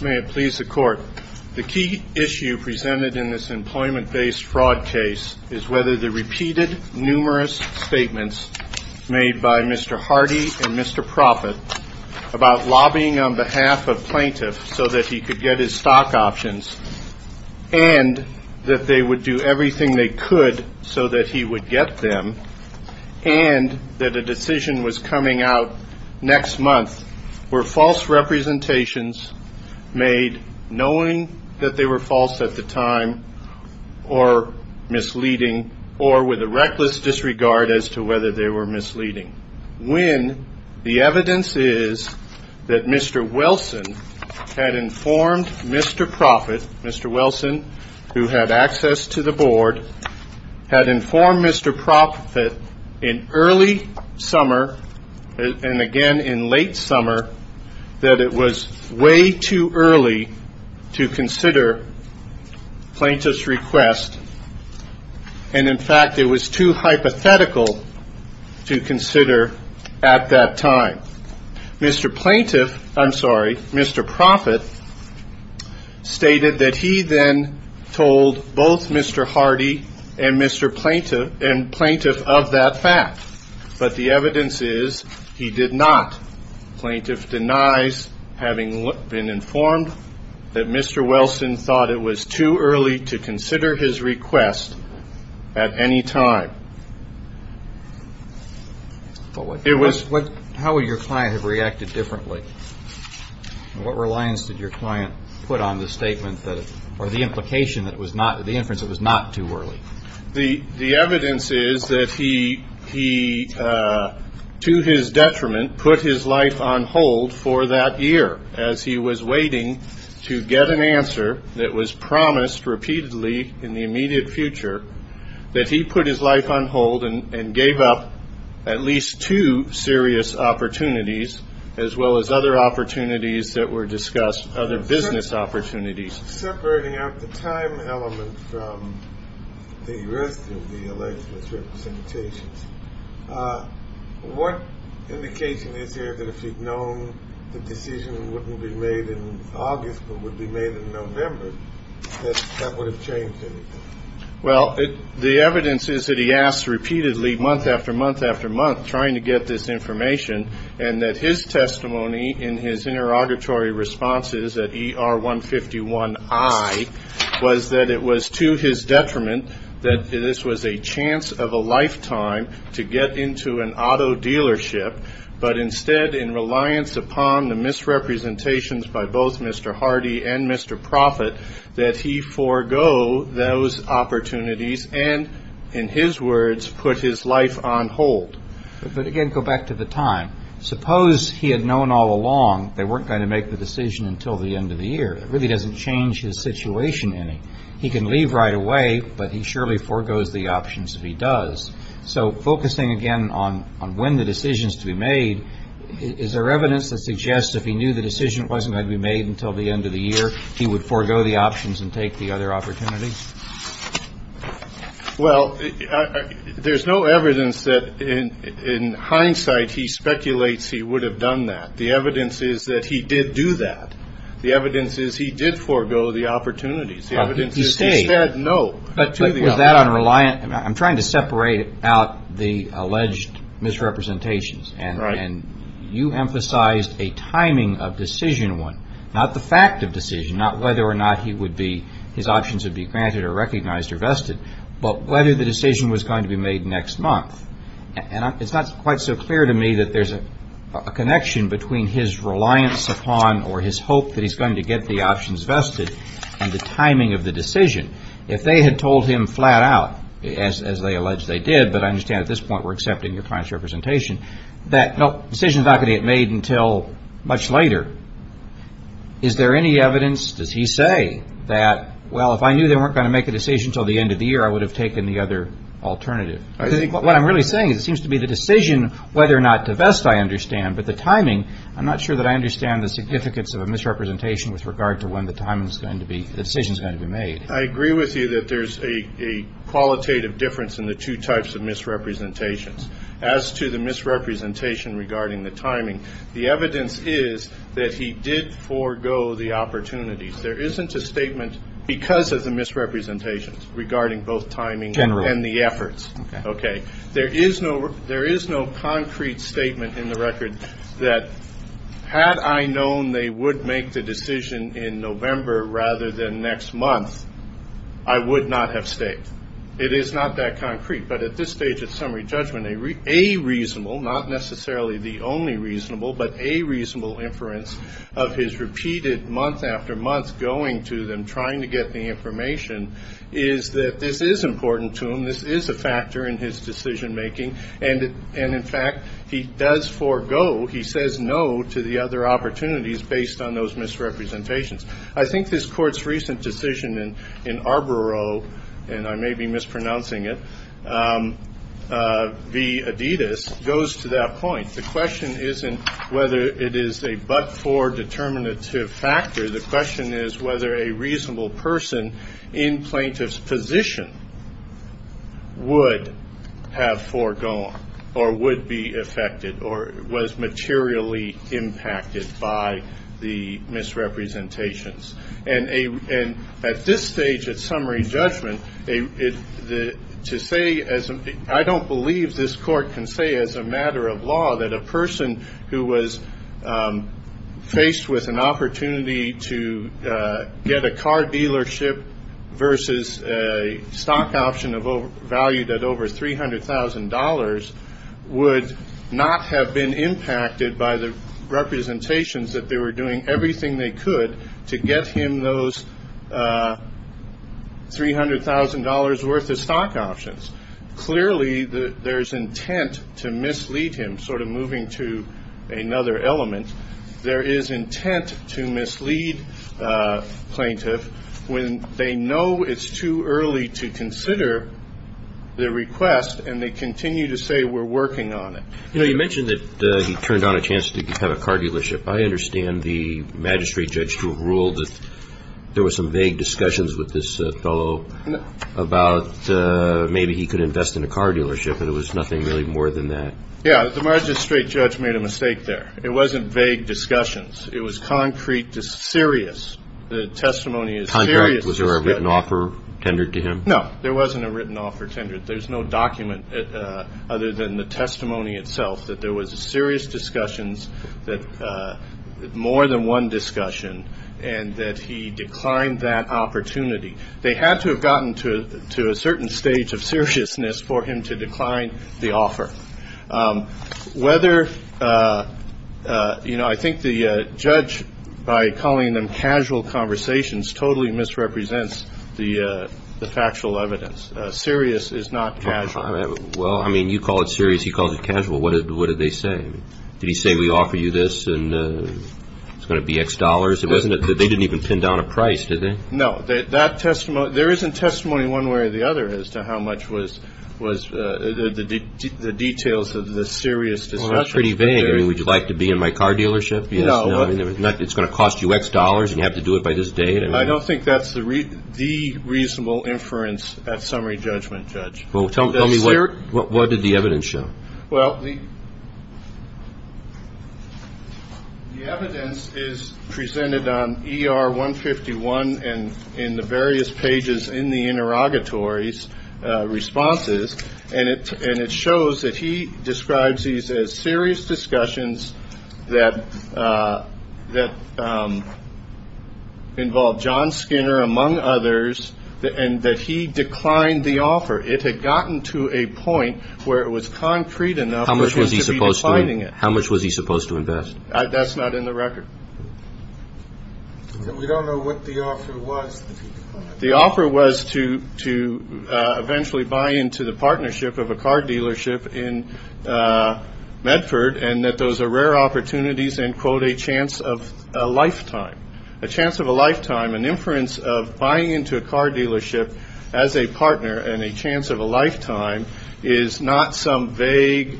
May it please the court. The key issue presented in this employment based fraud case is whether the repeated numerous statements made by Mr. Hardy and Mr. Prophet about lobbying on behalf of plaintiffs so that he could get his stock options and that they would do everything they could so that he would get them and that a decision was coming out next month to Mr. Hardy and Mr. Prophet were false representations made knowing that they were false at the time or misleading or with a reckless disregard as to whether they were misleading. When the evidence is that Mr. Wilson had informed Mr. Prophet, Mr. Wilson who had access to the board, had informed Mr. Prophet in early summer and again in late summer that it was way too early to consider plaintiff's request and in fact it was too hypothetical to consider at that time. Mr. Prophet stated that he then told both Mr. Hardy and Mr. Plaintiff of that fact but the evidence is he did not. Plaintiff denies having been informed that Mr. Wilson thought it was too early to consider his request at any time. But how would your client have reacted differently? What reliance did your client put on the statement or the implication that the inference was not too early? The evidence is that he, to his detriment, put his life on hold for that year as he was waiting to get an answer that was promised repeatedly in the immediate future that he put his life on hold and gave up at least two serious opportunities as well as other opportunities that were discussed, other business opportunities. Separating out the time element from the rest of the alleged misrepresentations, what indication is there that if he'd known the decision wouldn't be made in August but would be made in November that that would have changed anything? Well, the evidence is that he asked repeatedly month after month after month trying to get this information and that his testimony in his interrogatory responses at ER 151I was that it was to his detriment that this was a chance of a lifetime to get into an auto dealership but instead in reliance upon the misrepresentations by both Mr. Hardy and Mr. Prophet that he forego those opportunities. And in his words, put his life on hold. But again, go back to the time. Suppose he had known all along they weren't going to make the decision until the end of the year. It really doesn't change his situation any. He can leave right away but he surely forgoes the options if he does. So focusing again on when the decision is to be made, is there evidence that suggests if he knew the decision wasn't going to be made until the end of the year he would forego the options and take the other opportunities? Well, there's no evidence that in hindsight he speculates he would have done that. The evidence is that he did do that. The evidence is he did forego the opportunities. But was that on reliance? I'm trying to separate out the alleged misrepresentations and you emphasized a timing of decision one, not the fact of decision, not whether or not he would be, his options would be granted or recognized or vested, but whether the decision was going to be made next month. And it's not quite so clear to me that there's a connection between his reliance upon or his hope that he's going to get the options vested and the timing of the decision. If they had told him flat out, as they allege they did, but I understand at this point we're accepting your client's representation, that no, decision's not going to get made until much later, is there any evidence, does he say, that well, if I knew they weren't going to make a decision until the end of the year I would have taken the other alternative? What I'm really saying is it seems to be the decision whether or not to vest, I understand, but the timing, I'm not sure that I understand the significance of a misrepresentation with regard to when the decision's going to be made. I agree with you that there's a qualitative difference in the two types of misrepresentations. As to the misrepresentation regarding the timing, the evidence is that he did forego the opportunities. There isn't a statement because of the misrepresentations regarding both timing and the efforts. There is no concrete statement in the record that had I known they would make the decision in November rather than next month, I would not have stayed. It is not that concrete, but at this stage of summary judgment a reasonable, not necessarily the only reasonable, but a reasonable inference of his repeated month after month going to them trying to get the information is that this is important to him, this is a factor in his decision making, and in fact he does forego, he says no to the other opportunities based on those misrepresentations. I think this court's recent decision in Arboro, and I may be mispronouncing it, v. Adidas, goes to that point. The question isn't whether it is a but-for determinative factor, the question is whether a reasonable person in plaintiff's position would have foregone or would be affected or was materially impacted by the misrepresentations. At this stage of summary judgment, I don't believe this court can say as a matter of law that a person who was faced with an opportunity to get a car dealership versus a stock option valued at over $300,000 would not have been impacted by the representations that they were doing everything they could to get him those $300,000 worth of stock options. Clearly there's intent to mislead him, sort of moving to another element. There is intent to mislead plaintiff when they know it's too early to consider the request and they continue to say we're working on it. You mentioned that he turned down a chance to have a car dealership. I understand the magistrate judge ruled that there were some vague discussions with this fellow about maybe he could invest in a car dealership and it was nothing really more than that. Yeah, the magistrate judge made a mistake there. It wasn't vague discussions. It was concrete, serious. The testimony is serious. Was there a written offer tendered to him? No, there wasn't a written offer tendered. There's no document other than the testimony itself that there was serious discussions, more than one discussion, and that he declined that opportunity. They had to have gotten to a certain stage of seriousness for him to decline the offer. I think the judge, by calling them casual conversations, totally misrepresents the factual evidence. Serious is not casual. Well, I mean, you call it serious, he calls it casual. What did they say? Did he say we offer you this and it's going to be X dollars? They didn't even pin down a price, did they? No. There isn't testimony one way or the other as to how much was the details of the serious discussion. Well, that's pretty vague. I mean, would you like to be in my car dealership? No. It's going to cost you X dollars and you have to do it by this date? I don't think that's the reasonable inference at summary judgment, Judge. Well, tell me what did the evidence show? Well, the evidence is presented on ER 151 and in the various pages in the interrogatories' responses, and it shows that he describes these as serious discussions that involved John Skinner, among others, and that he declined the offer. It had gotten to a point where it was concrete enough for him to be declining it. How much was he supposed to invest? That's not in the record. We don't know what the offer was. The offer was to eventually buy into the partnership of a car dealership in Medford and that those are rare opportunities and, quote, a chance of a lifetime. A chance of a lifetime, an inference of buying into a car dealership as a partner and a chance of a lifetime is not some vague,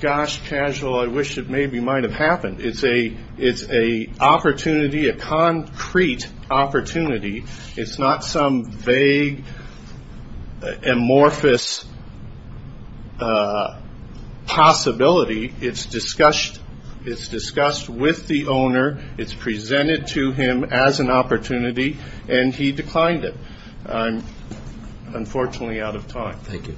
gosh, casual, I wish it maybe might have happened. It's an opportunity, a concrete opportunity. It's not some vague, amorphous possibility. It's discussed with the owner. It's presented to him as an opportunity, and he declined it. I'm unfortunately out of time. Thank you.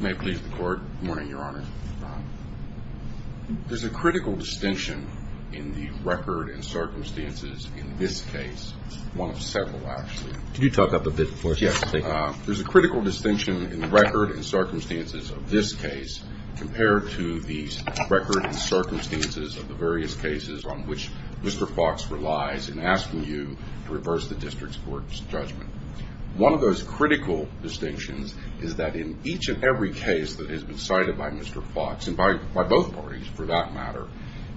May it please the Court. Good morning, Your Honor. There's a critical distinction in the record and circumstances in this case, one of several, actually. Can you talk up a bit for us? Yes, please. There's a critical distinction in the record and circumstances of this case compared to the record and circumstances of the various cases on which Mr. Fox relies in asking you to reverse the district court's judgment. One of those critical distinctions is that in each and every case that has been cited by Mr. Fox, and by both parties for that matter,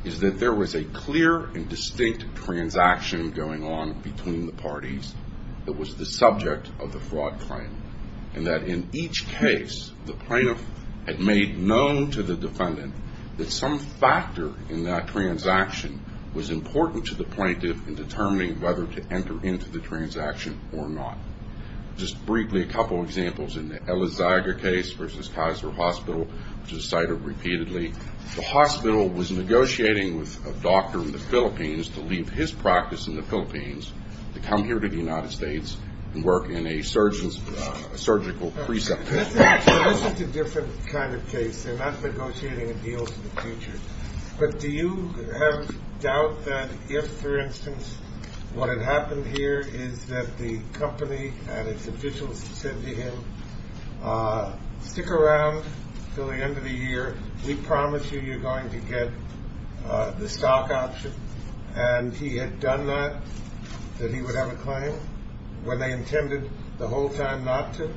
is that there was a clear and distinct transaction going on between the parties that was the subject of the fraud claim and that in each case the plaintiff had made known to the defendant that some factor in that transaction was important to the plaintiff in determining whether to enter into the transaction or not. Just briefly, a couple of examples. In the Elizaga case versus Kaiser Hospital, which is cited repeatedly, the hospital was negotiating with a doctor in the Philippines to leave his practice in the Philippines to come here to the United States and work in a surgical preceptor. This is a different kind of case. They're not negotiating a deal for the future. But do you have doubt that if, for instance, what had happened here is that the company and its officials said to him, stick around until the end of the year. We promise you you're going to get the stock option. And he had done that, that he would have a claim when they intended the whole time not to?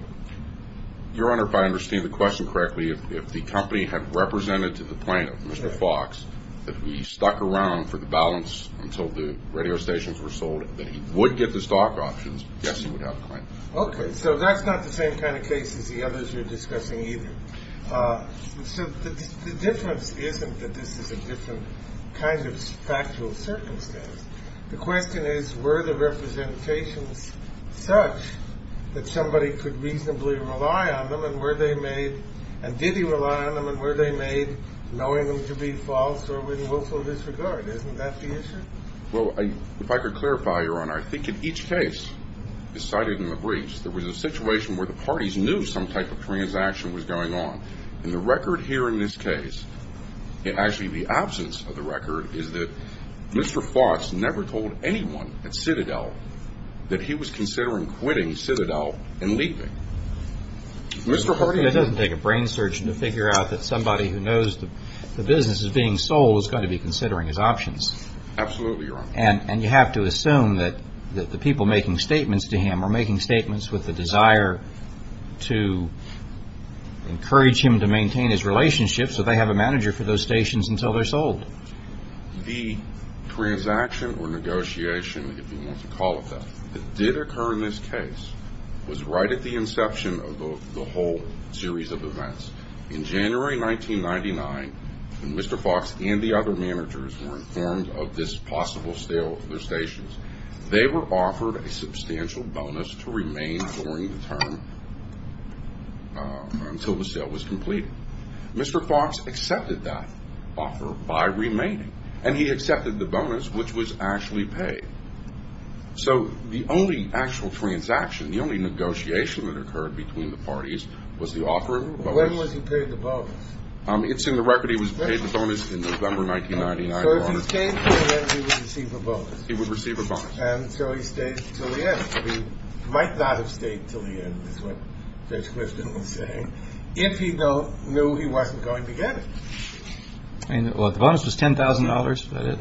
Your Honor, if I understand the question correctly, if the company had represented to the plaintiff, Mr. Fox, that he stuck around for the balance until the radio stations were sold, that he would get the stock options, yes, he would have a claim. Okay. So that's not the same kind of case as the others you're discussing either. So the difference isn't that this is a different kind of factual circumstance. The question is, were the representations such that somebody could reasonably rely on them and were they made and did he rely on them and were they made knowing them to be false or with willful disregard? Isn't that the issue? Well, if I could clarify, Your Honor, I think in each case decided in the briefs, there was a situation where the parties knew some type of transaction was going on. And the record here in this case, and actually the absence of the record, is that Mr. Fox never told anyone at Citadel that he was considering quitting Citadel and leaving. Mr. Hardy? It doesn't take a brain surgeon to figure out that somebody who knows the business is being sold is going to be considering his options. Absolutely, Your Honor. And you have to assume that the people making statements to him are making statements with the desire to encourage him to maintain his relationship so they have a manager for those stations until they're sold. The transaction or negotiation, if you want to call it that, that did occur in this case was right at the inception of the whole series of events. In January 1999, when Mr. Fox and the other managers were informed of this possible sale of their stations, they were offered a substantial bonus to remain during the term until the sale was completed. Mr. Fox accepted that offer by remaining, and he accepted the bonus, which was actually paid. So the only actual transaction, the only negotiation that occurred between the parties was the offer of the bonus. When was he paid the bonus? It's in the record he was paid the bonus in November 1999. So if he stayed, he would receive a bonus? He would receive a bonus. And so he stayed until the end. He might not have stayed until the end, is what Judge Clifton was saying, if he knew he wasn't going to get it. The bonus was $10,000,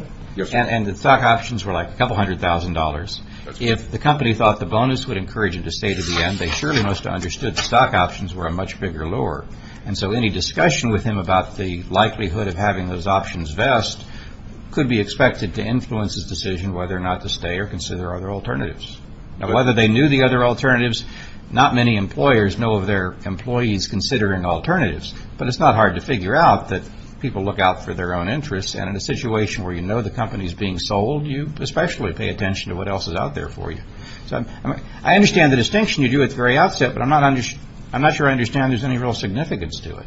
and the stock options were like a couple hundred thousand dollars. If the company thought the bonus would encourage him to stay to the end, they surely must have understood the stock options were a much bigger lure. And so any discussion with him about the likelihood of having those options vest could be expected to influence his decision whether or not to stay or consider other alternatives. Now, whether they knew the other alternatives, not many employers know of their employees considering alternatives. But it's not hard to figure out that people look out for their own interests, and in a situation where you know the company is being sold, you especially pay attention to what else is out there for you. So I understand the distinction you drew at the very outset, but I'm not sure I understand there's any real significance to it.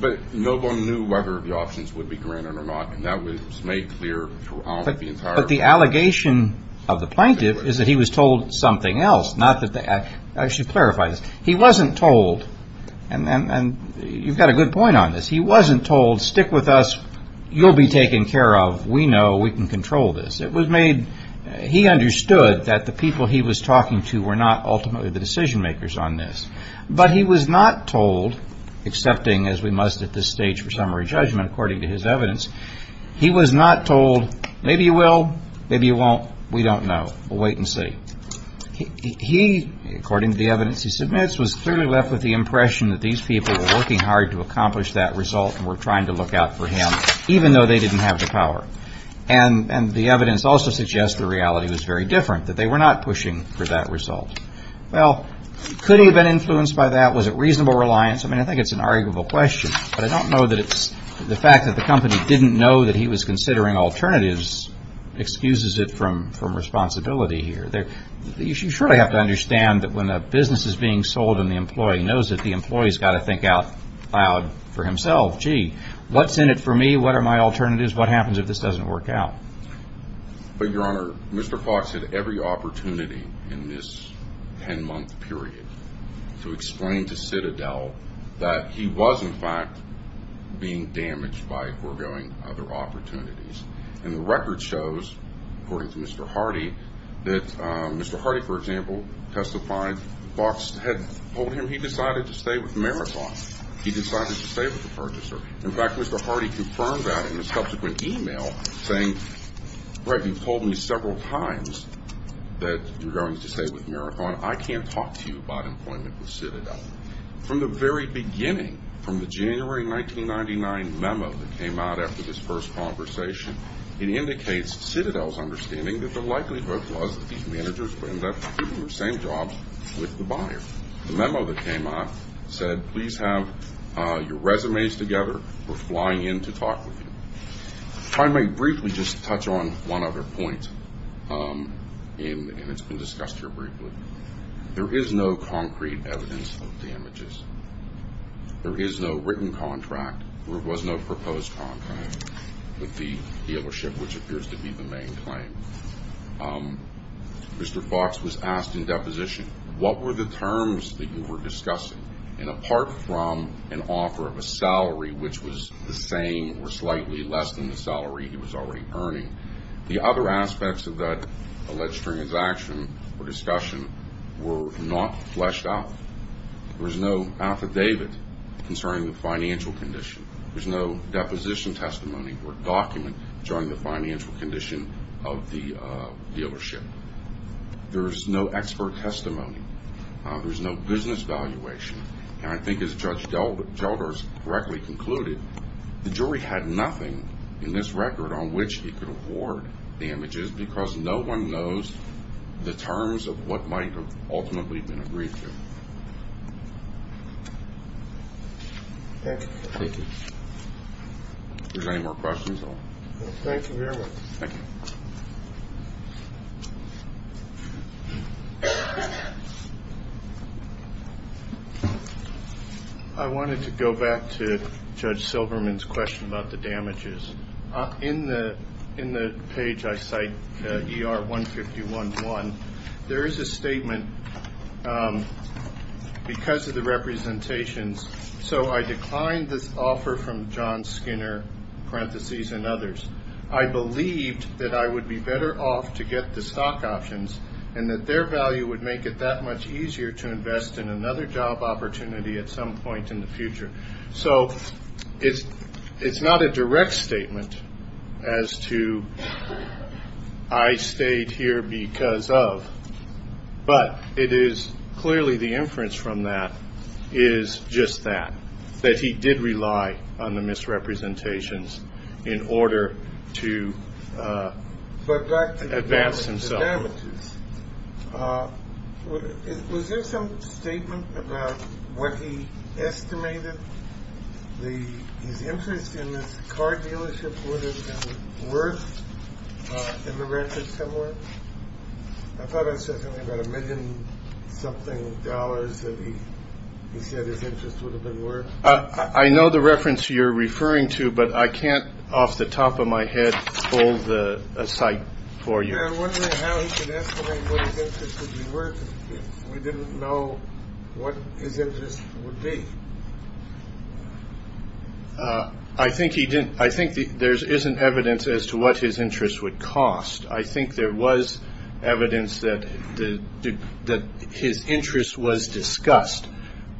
But no one knew whether the options would be granted or not, and that was made clear throughout the entire process. But the allegation of the plaintiff is that he was told something else, not that they actually clarified it. He wasn't told, and you've got a good point on this, he wasn't told, stick with us, you'll be taken care of, we know, we can control this. It was made, he understood that the people he was talking to were not ultimately the decision makers on this. But he was not told, accepting as we must at this stage for summary judgment according to his evidence, he was not told, maybe you will, maybe you won't, we don't know, we'll wait and see. He, according to the evidence he submits, was clearly left with the impression that these people were working hard to accomplish that result and were trying to look out for him, even though they didn't have the power. And the evidence also suggests the reality was very different, that they were not pushing for that result. Well, could he have been influenced by that? Was it reasonable reliance? I mean, I think it's an arguable question, but I don't know that it's the fact that the company didn't know that he was considering alternatives excuses it from responsibility here. You surely have to understand that when a business is being sold and the employee knows it, the employee's got to think out loud for himself, gee, what's in it for me? What are my alternatives? What happens if this doesn't work out? But, Your Honor, Mr. Fox had every opportunity in this ten-month period to explain to Citadel that he was, in fact, being damaged by foregoing other opportunities. And the record shows, according to Mr. Hardy, that Mr. Hardy, for example, testified, Fox had told him he decided to stay with Marathon. He decided to stay with the purchaser. In fact, Mr. Hardy confirmed that in a subsequent e-mail, saying, Greg, you've told me several times that you're going to stay with Marathon. I can't talk to you about employment with Citadel. From the very beginning, from the January 1999 memo that came out after this first conversation, it indicates Citadel's understanding that the likelihood was that these managers would end up doing the same jobs with the buyer. The memo that came out said, please have your resumes together. We're flying in to talk with you. If I may briefly just touch on one other point, and it's been discussed here briefly, there is no concrete evidence of damages. There is no written contract. There was no proposed contract with the dealership, which appears to be the main claim. Mr. Fox was asked in deposition, what were the terms that you were discussing? And apart from an offer of a salary, which was the same or slightly less than the salary he was already earning, the other aspects of that alleged transaction or discussion were not fleshed out. There was no affidavit concerning the financial condition. There was no deposition testimony or document showing the financial condition of the dealership. There was no expert testimony. There was no business valuation. And I think as Judge Gelders correctly concluded, the jury had nothing in this record on which he could award damages because no one knows the terms of what might have ultimately been agreed to. Thank you. Thank you. If there's any more questions, I'll... Thank you very much. Thank you. I wanted to go back to Judge Silverman's question about the damages. In the page I cite, ER-151-1, there is a statement because of the representations, so I declined this offer from John Skinner, parentheses, and others. I believed that I would be better off to get the stock options and that their value would make it that much easier to invest in another job opportunity at some point in the future. So it's not a direct statement as to I stayed here because of, but it is clearly the inference from that is just that, that he did rely on the misrepresentations in order to advance himself. But back to the damages. Was there some statement about what he estimated his interest in this car dealership would have been worth in the record somewhere? I thought I said something about a million-something dollars that he said his interest would have been worth. I know the reference you're referring to, but I can't off the top of my head hold a cite for you. Yeah, I'm wondering how he could estimate what his interest would be worth if we didn't know what his interest would be. I think he didn't. I think there isn't evidence as to what his interest would cost. I think there was evidence that his interest was discussed.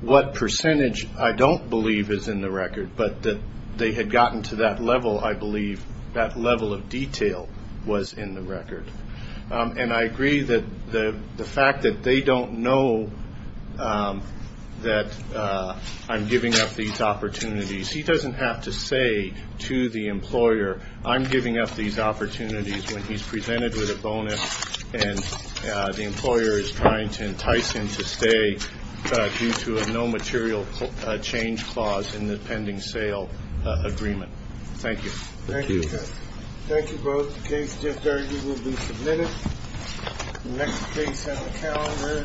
What percentage I don't believe is in the record, but that they had gotten to that level, I believe, that level of detail was in the record. And I agree that the fact that they don't know that I'm giving up these opportunities, he doesn't have to say to the employer, I'm giving up these opportunities when he's presented with a bonus and the employer is trying to entice him to stay due to a no material change clause in the pending sale agreement. Thank you. Thank you. Thank you both. The case just argued will be submitted. Next case on the calendar is Bailey versus Barnhart.